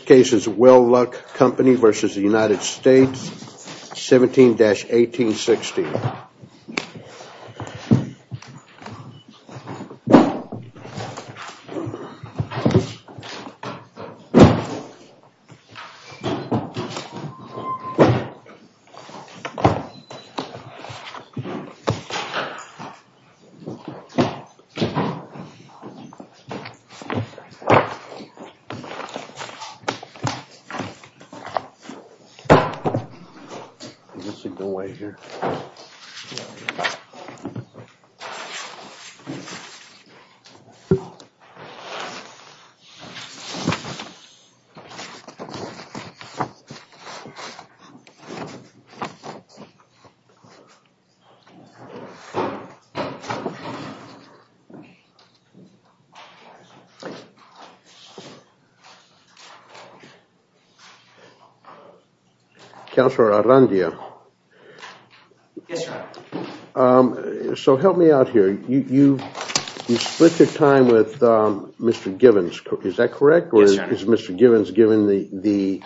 Case is Will Luck Company versus the United States 17-1860 This should go right here Careful no interview So Gather time with mr.. Givens correct is that correct is mr.. Givens given the the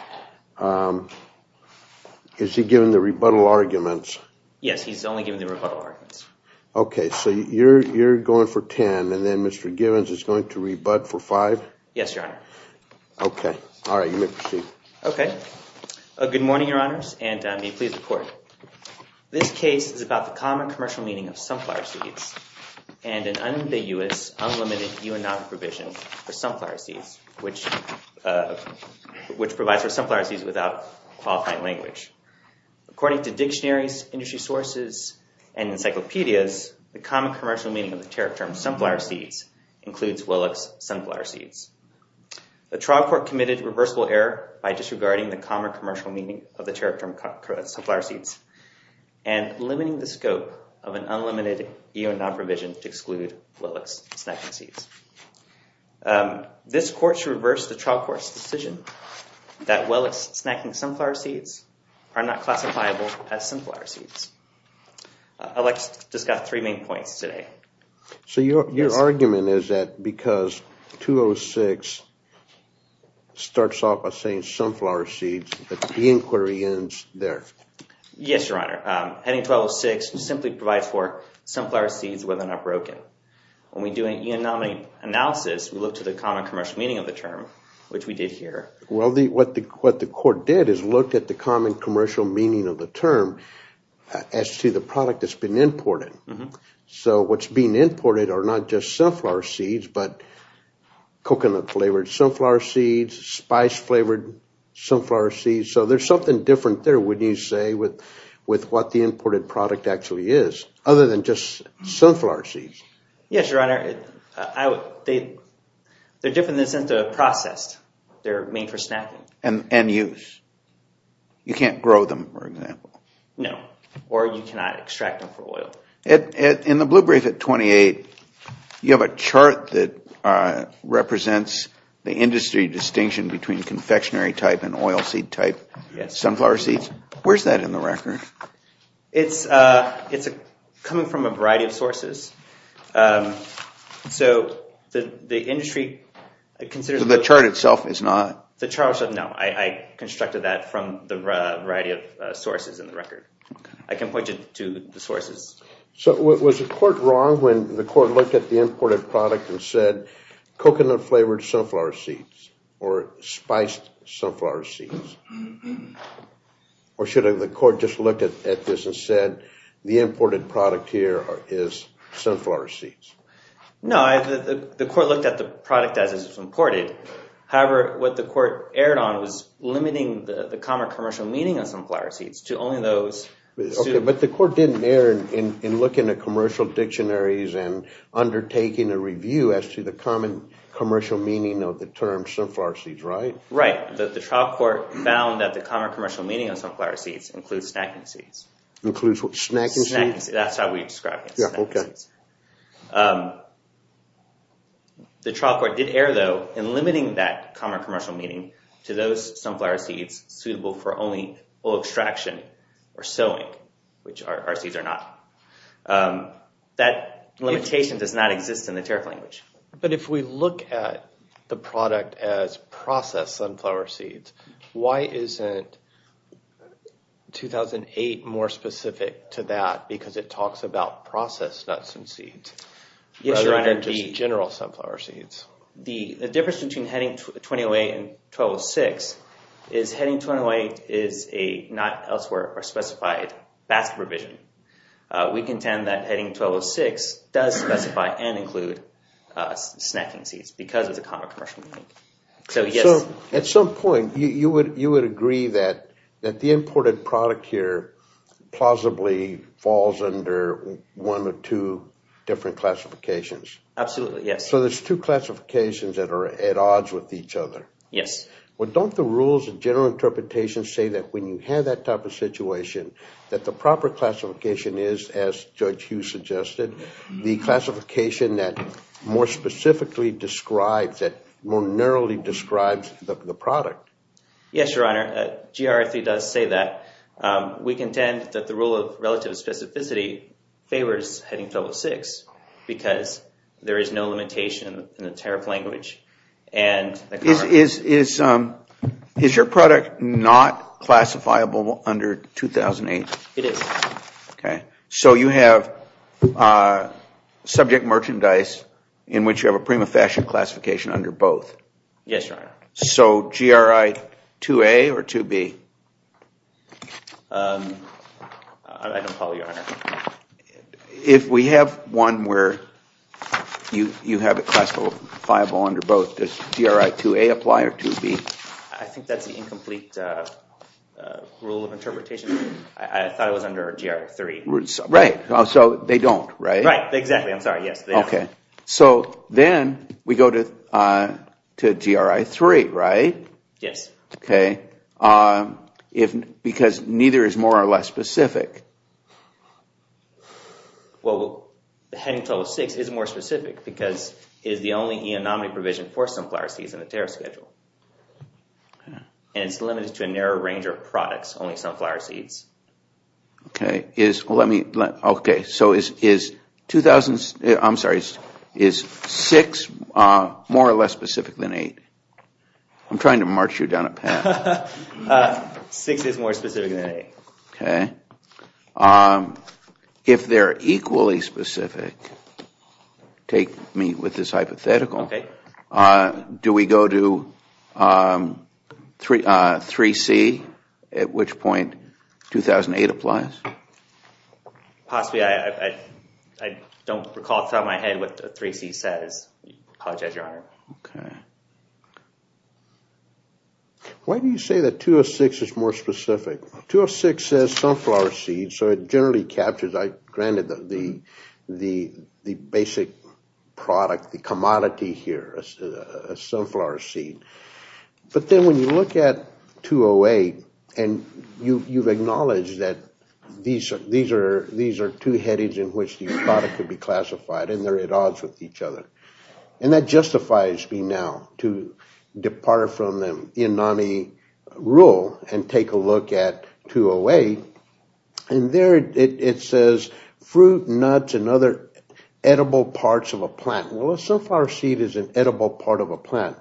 Is he given the rebuttal arguments, yes, he's only doing the remember Okay, so you're you're going for ten, and then mister. Givens is going to rebut for five. Yes, sir Okay, all right you make a sheet, okay a good morning your honors, and I'm a please report This case is about the common commercial meaning of sunflower seeds and an unambiguous Unlimited you and not provision for sunflower seeds which? Which provides for sunflower seeds without qualifying language? according to dictionaries industry sources and Encyclopedias the common commercial meaning of the tariff term sunflower seeds includes Willux sunflower seeds the trial court committed reversible error by disregarding the common commercial meaning of the tariff term cut crowds to flower seeds and Limiting the scope of an unlimited you and not provision to exclude Willux snacking seeds This court's reversed the trial court's decision that Willux snacking sunflower seeds are not classifiable as sunflower seeds Alex just got three main points today So your argument is that because 206 Starts off by saying sunflower seeds, but the inquiry ends there Yes, your honor heading 1206 simply provides for sunflower seeds whether or not broken when we do an eonomic Analysis we look to the common commercial meaning of the term which we did here Well the what the what the court did is looked at the common commercial meaning of the term As to the product that's been imported, so what's being imported are not just sunflower seeds, but coconut flavored sunflower seeds spice flavored Sunflower seeds, so there's something different there Would you say with with what the imported product actually is other than just sunflower seeds yes, your honor? they They're different this into processed. They're made for snacking and and use You can't grow them for example No, or you cannot extract them for oil it in the blue brief at 28 You have a chart that Represents the industry distinction between confectionery type and oil seed type. Yes, sunflower seeds. Where's that in the record? It's a it's a coming from a variety of sources So the the industry Consider the chart itself is not the charge of no I constructed that from the variety of sources in the record I can point you to the sources, so it was a court wrong when the court looked at the imported product and said coconut flavored sunflower seeds or spiced sunflower seeds Or should I the court just looked at this and said the imported product here is sunflower seeds No, I the court looked at the product as it's imported However what the court erred on was limiting the the common commercial meaning of sunflower seeds to only those But the court didn't err in looking at commercial dictionaries and Undertaking a review as to the common commercial meaning of the term sunflower seeds, right? Right that the trial court found that the common commercial meaning of sunflower seeds includes snacking seeds includes what snacking seeds The Trial court did err though in limiting that common commercial meaning to those sunflower seeds suitable for only extraction or sowing which are our seeds or not That limitation does not exist in the tariff language But if we look at the product as processed sunflower seeds, why isn't 2008 more specific to that because it talks about processed nuts and seeds Yes, your honor, just general sunflower seeds. The difference between heading 2008 and 1206 is Heading 2008 is a not elsewhere or specified basket provision We contend that heading 1206 does specify and include snacking seeds because of the common commercial meaning So yes at some point you would you would agree that that the imported product here Plausibly falls under one or two different classifications Absolutely. Yes, so there's two classifications that are at odds with each other Yes Well, don't the rules of general interpretation say that when you have that type of situation that the proper classification is as judge Hugh suggested the classification that more specifically describes that more narrowly describes the product Yes, your honor GRF he does say that We contend that the rule of relative specificity favors heading 2006 because there is no limitation in the tariff language and Is is is? Is your product not classifiable under 2008? It is. Okay, so you have Subject merchandise in which you have a prima fashion classification under both. Yes, your honor. So GRI 2A or 2B I don't follow your honor If we have one where You you have it classifiable under both this GRI 2A apply or 2B. I think that's the incomplete Rule of interpretation. I thought it was under GR 3 roots. Right? Oh, so they don't right, right. Exactly. I'm sorry. Yes Okay, so then we go to To GRI 3, right? Yes, okay If because neither is more or less specific Well, the heading 2006 is more specific because is the only eonomic provision for sunflower seeds in the tariff schedule And it's limited to a narrow range of products only sunflower seeds Okay is let me let okay. So is is 2000s, I'm sorry is six More or less specific than eight I'm trying to march you down a path Six is more specific than eight. Okay If they're equally specific Take me with this hypothetical. Okay. Do we go to Three three C at which point 2008 applies Possibly I I don't recall it on my head what the three C says. I'll judge your honor. Okay Why do you say that 206 is more specific 206 says sunflower seed so it generally captures I granted that the the the basic product the commodity here a sunflower seed but then when you look at 208 and you you've acknowledged that These are these are these are two headings in which the product could be classified and they're at odds with each other And that justifies me now to Depart from them in NAMI Rule and take a look at 208 And there it says fruit nuts and other Edible parts of a plant. Well, it's so far seed is an edible part of a plant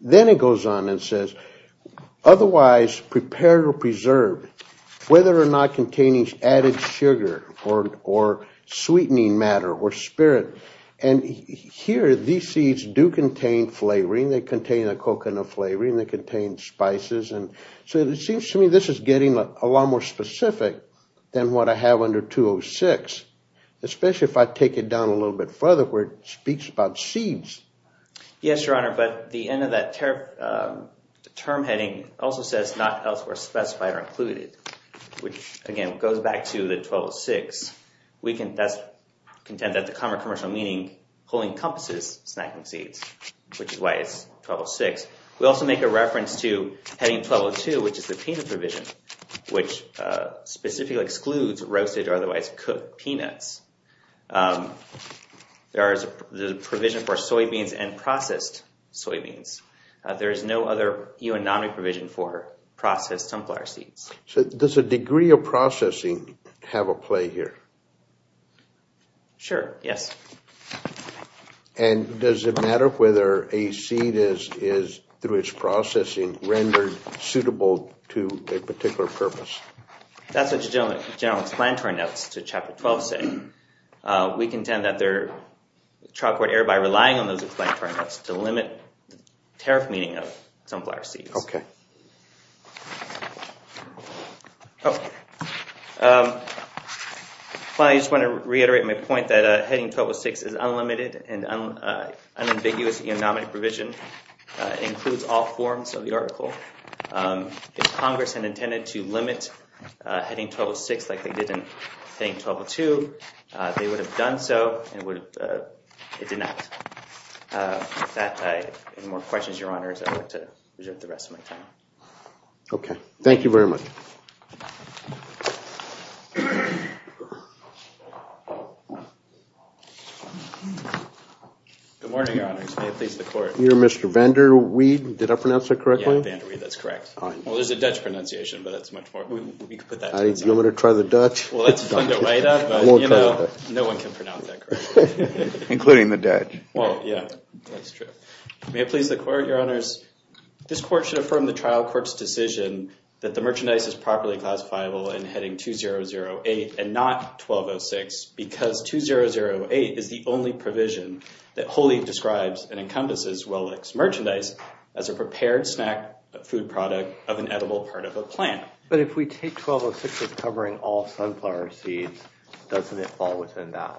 then it goes on and says otherwise prepare to preserve whether or not containing added sugar or or sweetening matter or spirit and Here these seeds do contain flavoring they contain a coconut flavoring that contains Spices and so it seems to me this is getting a lot more specific than what I have under 206 Especially if I take it down a little bit further where it speaks about seeds Yes, your honor, but the end of that term Term heading also says not elsewhere specified or included which again goes back to the 1206 We can thus contend that the common commercial meaning wholly encompasses snacking seeds, which is why it's 1206 We also make a reference to heading 1202, which is the peanut provision which Specifically excludes roasted or otherwise cooked peanuts There is the provision for soybeans and processed soybeans There is no other UN NAMI provision for processed sunflower seeds. So there's a degree of processing have a play here Sure, yes And does it matter whether a seed is is through its processing rendered suitable to a particular purpose? That's what you don't general explanatory notes to chapter 12 say we contend that they're Chocolate air by relying on those explanatory notes to limit tariff meaning of sunflower seeds, okay Oh Well, I just want to reiterate my point that a heading 1206 is unlimited and unambiguous economic provision Includes all forms of the article If Congress had intended to limit Heading 1206 like they didn't think 1202 They would have done so and would It did not That I more questions your honors to the rest of my time Okay. Thank you very much You're mr. Vendor weed did I pronounce that correctly? That's correct. Well, there's a Dutch pronunciation, but that's much more You want to try the Dutch? Including the dead. Well, yeah Please the court your honors This court should affirm the trial court's decision that the merchandise is properly classifiable and heading 2008 and not 1206 because 2008 is the only provision that wholly describes and encompasses well-mixed merchandise as a prepared snack Food product of an edible part of a plant, but if we take 1206 is covering all sunflower seeds Doesn't it fall within that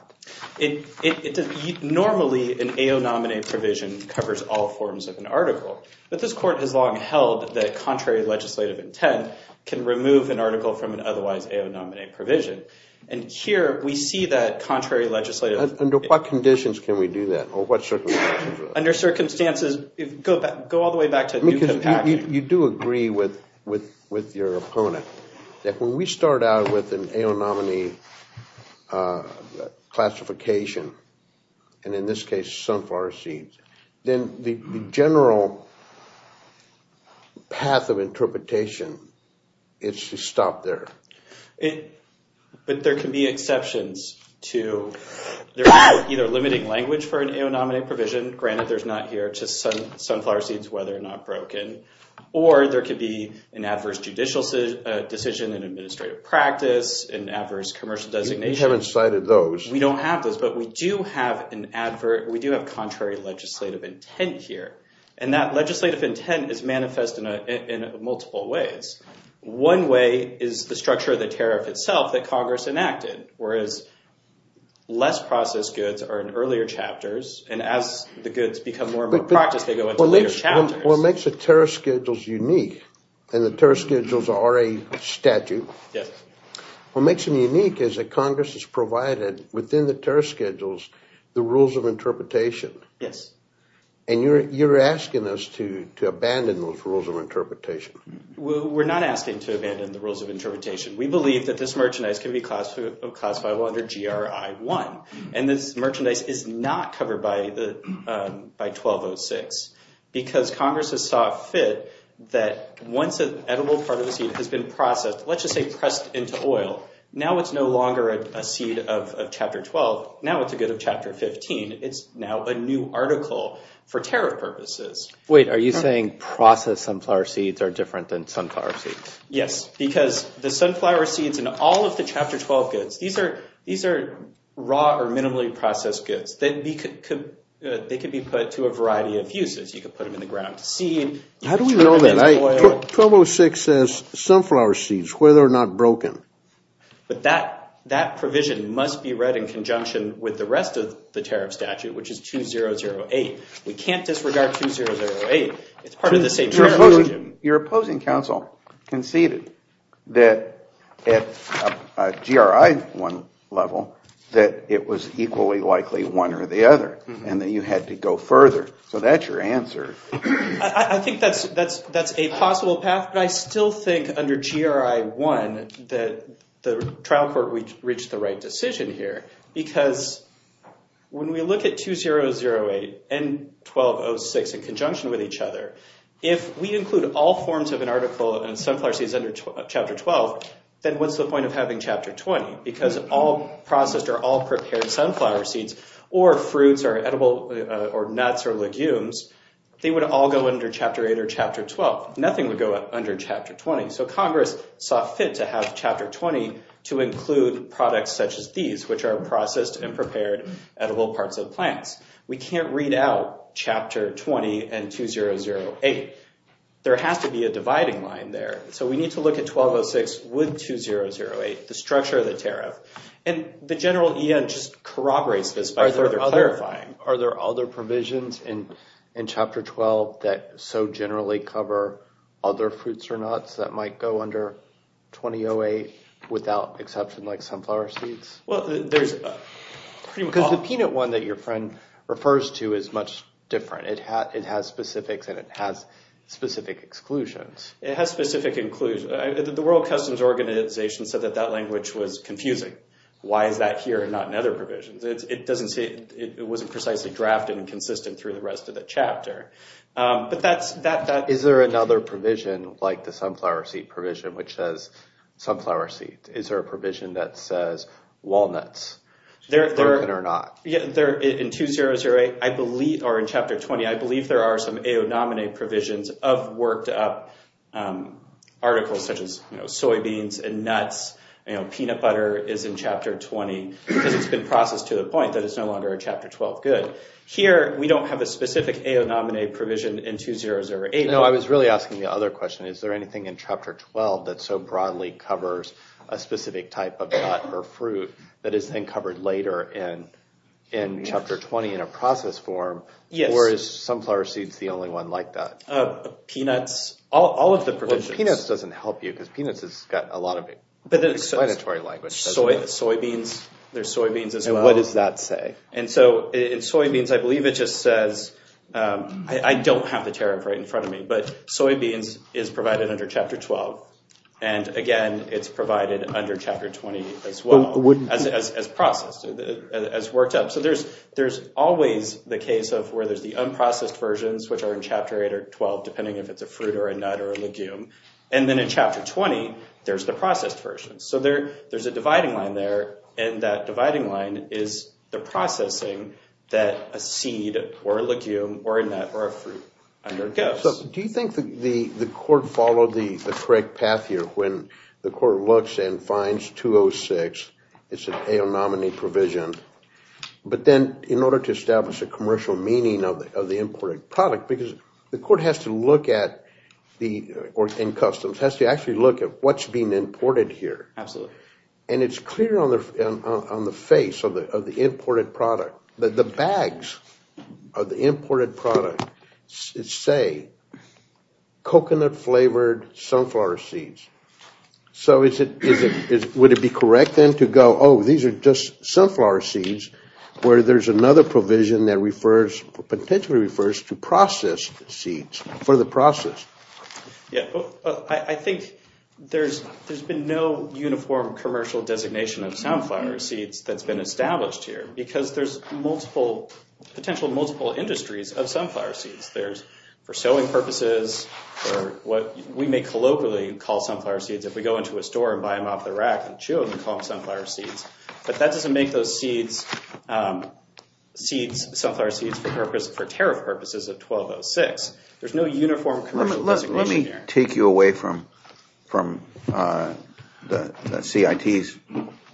it? Normally an AO nominee provision covers all forms of an article but this court has long held that contrary legislative intent can remove an article from an otherwise AO nominee provision and Here we see that contrary legislative under what conditions. Can we do that or what? Under circumstances if go back go all the way back to because you do agree with with with your opponent That when we start out with an AO nominee Classification and in this case sunflower seeds then the general Path of interpretation It's to stop there. But there can be exceptions to There's either limiting language for an AO nominee provision granted There's not here just some sunflower seeds whether or not broken or there could be an adverse judicial Decision in administrative practice in adverse commercial designation. We haven't cited those. We don't have those but we do have an advert We do have contrary legislative intent here and that legislative intent is manifest in a in multiple ways one way is the structure of the tariff itself that Congress enacted whereas Less processed goods are in earlier chapters and as the goods become more and more practice What makes the tariff schedules unique and the tariff schedules are a statute Yes, what makes them unique is that Congress has provided within the tariff schedules the rules of interpretation Yes, and you're you're asking us to to abandon those rules of interpretation We're not asking to abandon the rules of interpretation we believe that this merchandise can be classified under GRI 1 and this merchandise is not covered by the by 1206 Because Congress has saw fit that once an edible part of the seed has been processed Let's just say pressed into oil now. It's no longer a seed of chapter 12. Now. It's a good of chapter 15 It's now a new article for tariff purposes. Wait, are you saying processed sunflower seeds are different than sunflower seeds? Yes, because the sunflower seeds and all of the chapter 12 goods. These are these are Raw or minimally processed goods. They could they could be put to a variety of uses you could put them in the ground to seed How do we know that I? 1206 says sunflower seeds whether or not broken But that that provision must be read in conjunction with the rest of the tariff statute, which is two zero zero eight We can't disregard two zero zero eight. It's part of the same You're opposing counsel conceded that At GRI one level that it was equally likely one or the other and then you had to go further So that's your answer. I think that's that's that's a possible path but I still think under GRI one that the trial court we reached the right decision here because when we look at two zero zero eight and 1206 in conjunction with each other if we include all forms of an article and sunflower seeds under chapter 12 then what's the point of having chapter 20 because all processed are all prepared sunflower seeds or Fruits are edible or nuts or legumes They would all go under chapter 8 or chapter 12. Nothing would go up under chapter 20 So Congress saw fit to have chapter 20 to include products such as these which are processed and prepared Edible parts of plants. We can't read out chapter 20 and two zero zero eight There has to be a dividing line there so we need to look at 1206 with two zero zero eight the structure of the tariff and The general EN just corroborates this by their other fine Are there other provisions in in chapter 12 that so generally cover other fruits or nuts that might go under? 2008 without exception like sunflower seeds. Well, there's Because the peanut one that your friend refers to is much different It had it has specifics and it has specific exclusions. It has specific includes the World Customs Organization Said that that language was confusing. Why is that here and not in other provisions? It doesn't say it wasn't precisely drafted and consistent through the rest of the chapter But that's that that is there another provision like the sunflower seed provision which says Sunflower seed is there a provision that says walnuts there or not? There in two zero zero eight, I believe or in chapter 20, I believe there are some AO nominate provisions of worked-up Articles such as soybeans and nuts, you know Peanut butter is in chapter 20 because it's been processed to the point that it's no longer in chapter 12 good here We don't have a specific AO nominate provision in two zero zero eight No, I was really asking the other question is there anything in chapter 12 that so broadly covers a specific type of nut or fruit that is then covered later and Chapter 20 in a process form. Yes, or is sunflower seeds the only one like that? Peanuts all of the provision peanuts doesn't help you because peanuts has got a lot of it, but it's a mandatory language So it's soybeans. There's soybeans as well. What does that say? And so it's soybeans. I believe it just says I don't have the tariff right in front of me, but soybeans is provided under chapter 12 and Again, it's provided under chapter 20 as well as processed as worked up So there's there's always the case of where there's the unprocessed versions Which are in chapter 8 or 12 depending if it's a fruit or a nut or a legume and then in chapter 20 There's the processed version so there there's a dividing line there and that dividing line is the Processing that a seed or a legume or a nut or a fruit under goes Do you think that the the court followed the correct path here when the court looks and finds 206 it's an AO nominee provision but then in order to establish a commercial meaning of the imported product because the court has to look at the Or in customs has to actually look at what's being imported here Absolutely, and it's clear on the on the face of the of the imported product that the bags of the imported product Say coconut flavored sunflower seeds So is it is it would it be correct then to go? Oh, these are just sunflower seeds where there's another provision that refers Potentially refers to processed seeds for the process Yeah, I think there's there's been no uniform commercial designation of sunflower seeds That's been established here because there's multiple Potential multiple industries of sunflower seeds there's for sowing purposes What we may colloquially call sunflower seeds if we go into a store and buy them off the rack and chew them and call them Sunflower seeds, but that doesn't make those seeds Seeds sunflower seeds for purpose for tariff purposes of 1206. There's no uniform. Let me take you away from from the CITs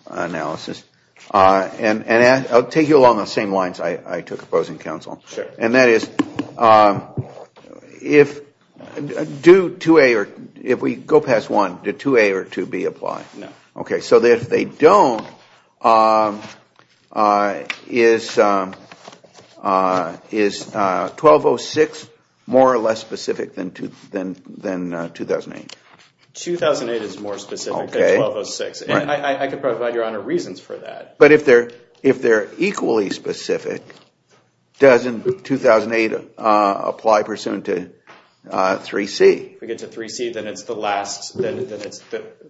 And and I'll take you along the same lines I took opposing counsel sure and that is If Due to a or if we go past one did to a or to be applied. No, okay, so that if they don't Is Is 1206 more or less specific than to then than 2008 2008 is more specific than 1206 and I could provide your honor reasons for that, but if they're if they're equally specific doesn't 2008 apply pursuant to 3 C. We get to 3 C. Then it's the last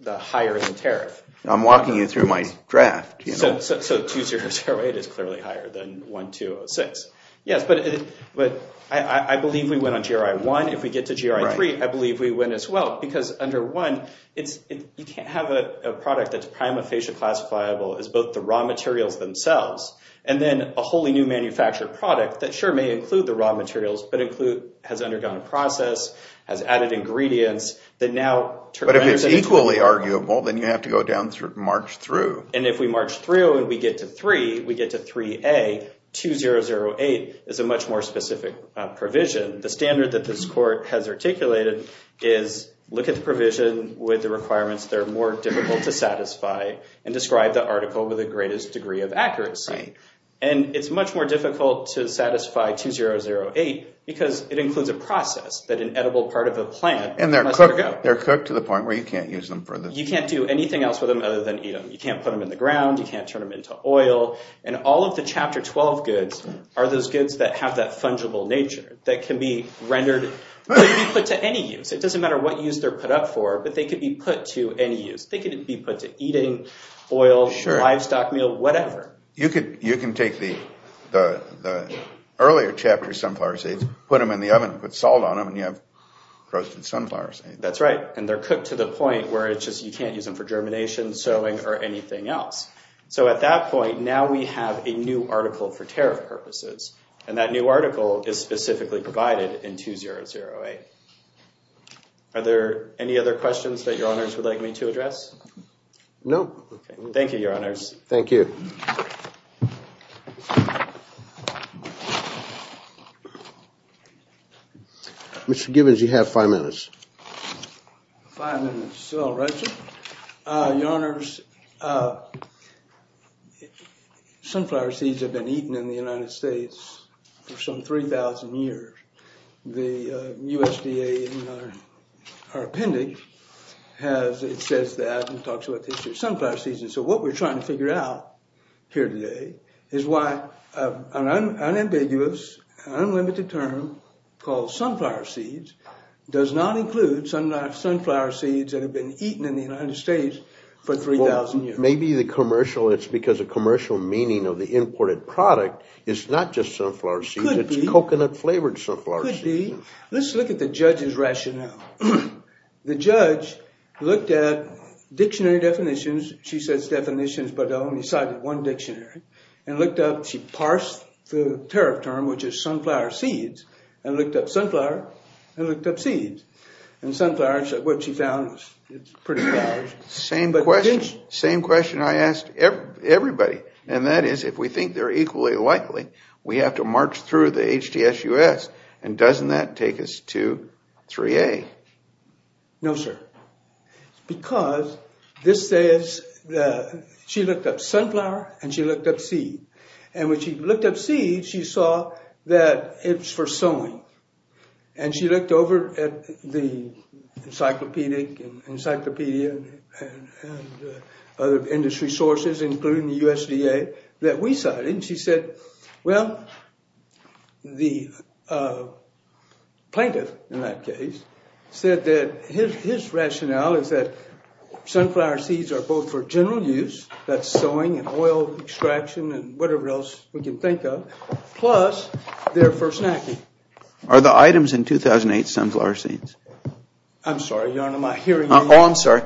Higher than tariff. I'm walking you through my draft. You know, so 2008 is clearly higher than 1206 Yes, but but I believe we went on gri1 if we get to gri3 I believe we went as well because under one it's you can't have a product that's prima facie Classifiable is both the raw materials themselves and then a wholly new manufactured product that sure may include the raw materials But include has undergone a process has added ingredients that now But if it's equally arguable, then you have to go down through March through and if we march through and we get to three we Get to three a two zero zero eight is a much more specific Provision the standard that this court has articulated is Look at the provision with the requirements they're more difficult to satisfy and describe the article with the greatest degree of accuracy and it's much more difficult to satisfy two zero zero eight because it includes a process that an edible part of a plant and they're They're cooked to the point where you can't use them for this You can't do anything else with them other than eat them You can't put them in the ground And all of the chapter 12 goods are those goods that have that fungible nature that can be rendered Put to any use it doesn't matter what use they're put up for but they could be put to any use they couldn't be put to eating oil sure livestock meal, whatever you could you can take the Earlier chapter sunflower seeds put them in the oven put salt on them and you have Roasted sunflowers. That's right. And they're cooked to the point where it's just you can't use them for germination sewing or anything else So at that point now we have a new article for tariff purposes and that new article is specifically provided in two zero zero eight Are there any other questions that your honors would like me to address? No. Thank you. Your honors. Thank you Mr. Givens you have five minutes Your honors If sunflower seeds have been eaten in the United States for some 3,000 years the USDA Our appendix has it says that and talks about this year's sunflower season. So what we're trying to figure out here today is why I'm an ambiguous Unlimited term called sunflower seeds does not include some nice sunflower seeds that have been eaten in the United States For 3,000 years, maybe the commercial it's because a commercial meaning of the imported product. It's not just sunflower seed It's coconut flavored sunflower seed. Let's look at the judge's rationale the judge looked at Dictionary definitions. She says definitions But only cited one dictionary and looked up she parsed the tariff term Which is sunflower seeds and looked up sunflower and looked up seeds and sunflowers that what she found It's pretty bad. Same question. Same question I asked everybody and that is if we think they're equally likely We have to march through the HDS US and doesn't that take us to 3a No, sir because this says She looked up sunflower and she looked up seed and when she looked up seed she saw that it's for sowing and she looked over at the Encyclopedic encyclopedia Other industry sources including the USDA that we cited and she said well the Plaintiff in that case said that his rationale is that Sunflower seeds are both for general use that's sowing and oil extraction and whatever else we can think of plus They're for snacking are the items in 2008 sunflower seeds, I'm sorry, you know, am I hearing? Oh, I'm sorry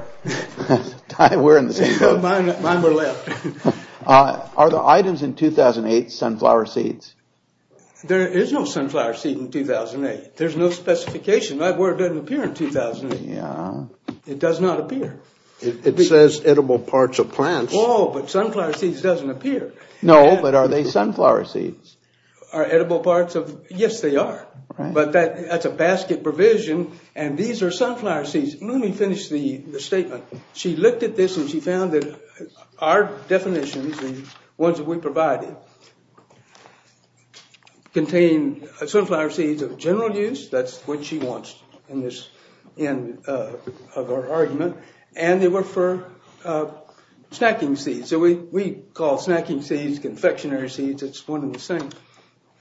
Are the items in 2008 sunflower seeds There is no sunflower seed in 2008. There's no specification that word doesn't appear in 2008 Yeah, it does not appear. It says edible parts of plants. Oh, but sunflower seeds doesn't appear No, but are they sunflower seeds are edible parts of yes They are but that that's a basket provision and these are sunflower seeds. Let me finish the statement She looked at this and she found that our definitions and ones that we provided Contain sunflower seeds of general use that's what she wants in this Argument and they were for Snacking seeds, so we we call snacking seeds confectionery seeds. It's one of the same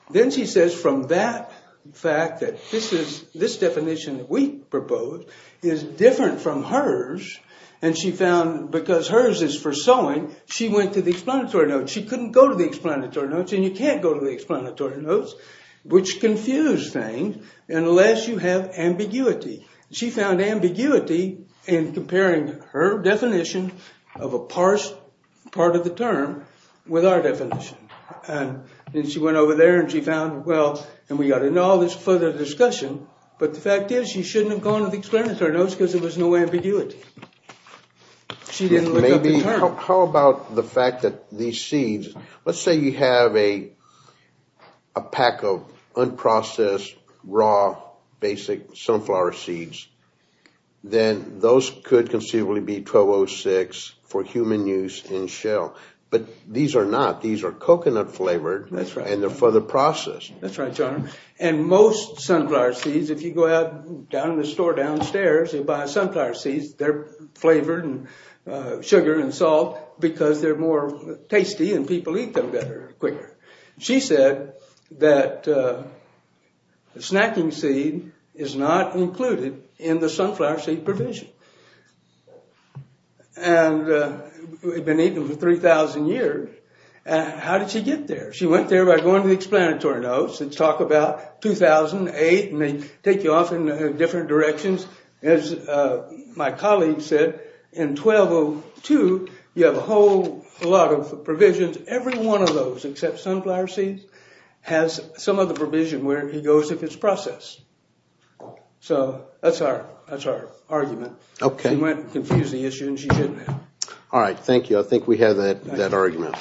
Then she says from that fact that this is this definition that we propose is Different from hers and she found because hers is for sowing she went to the explanatory notes She couldn't go to the explanatory notes and you can't go to the explanatory notes which confuse things Unless you have ambiguity She found ambiguity in comparing her definition of a parsed part of the term With our definition and then she went over there and she found well, and we got into all this further discussion But the fact is you shouldn't have gone to the explanatory notes because it was no ambiguity She didn't maybe how about the fact that these seeds let's say you have a a pack of Unprocessed raw basic sunflower seeds Then those could conceivably be 1206 for human use in shell But these are not these are coconut flavored and they're for the process That's right, John and most sunflower seeds if you go out down in the store downstairs you buy sunflower seeds they're flavored and Sugar and salt because they're more tasty and people eat them better quicker. She said that the snacking seed is not included in the sunflower seed provision and We've been eating for 3,000 years How did she get there? She went there by going to the explanatory notes and talk about 2008 may take you off in different directions as My colleague said in 1202 you have a whole lot of provisions every one of those except sunflower seeds Has some of the provision where he goes if it's processed So that's our that's our argument. Okay went confuse the issue and she didn't all right. Thank you I think we have that that argument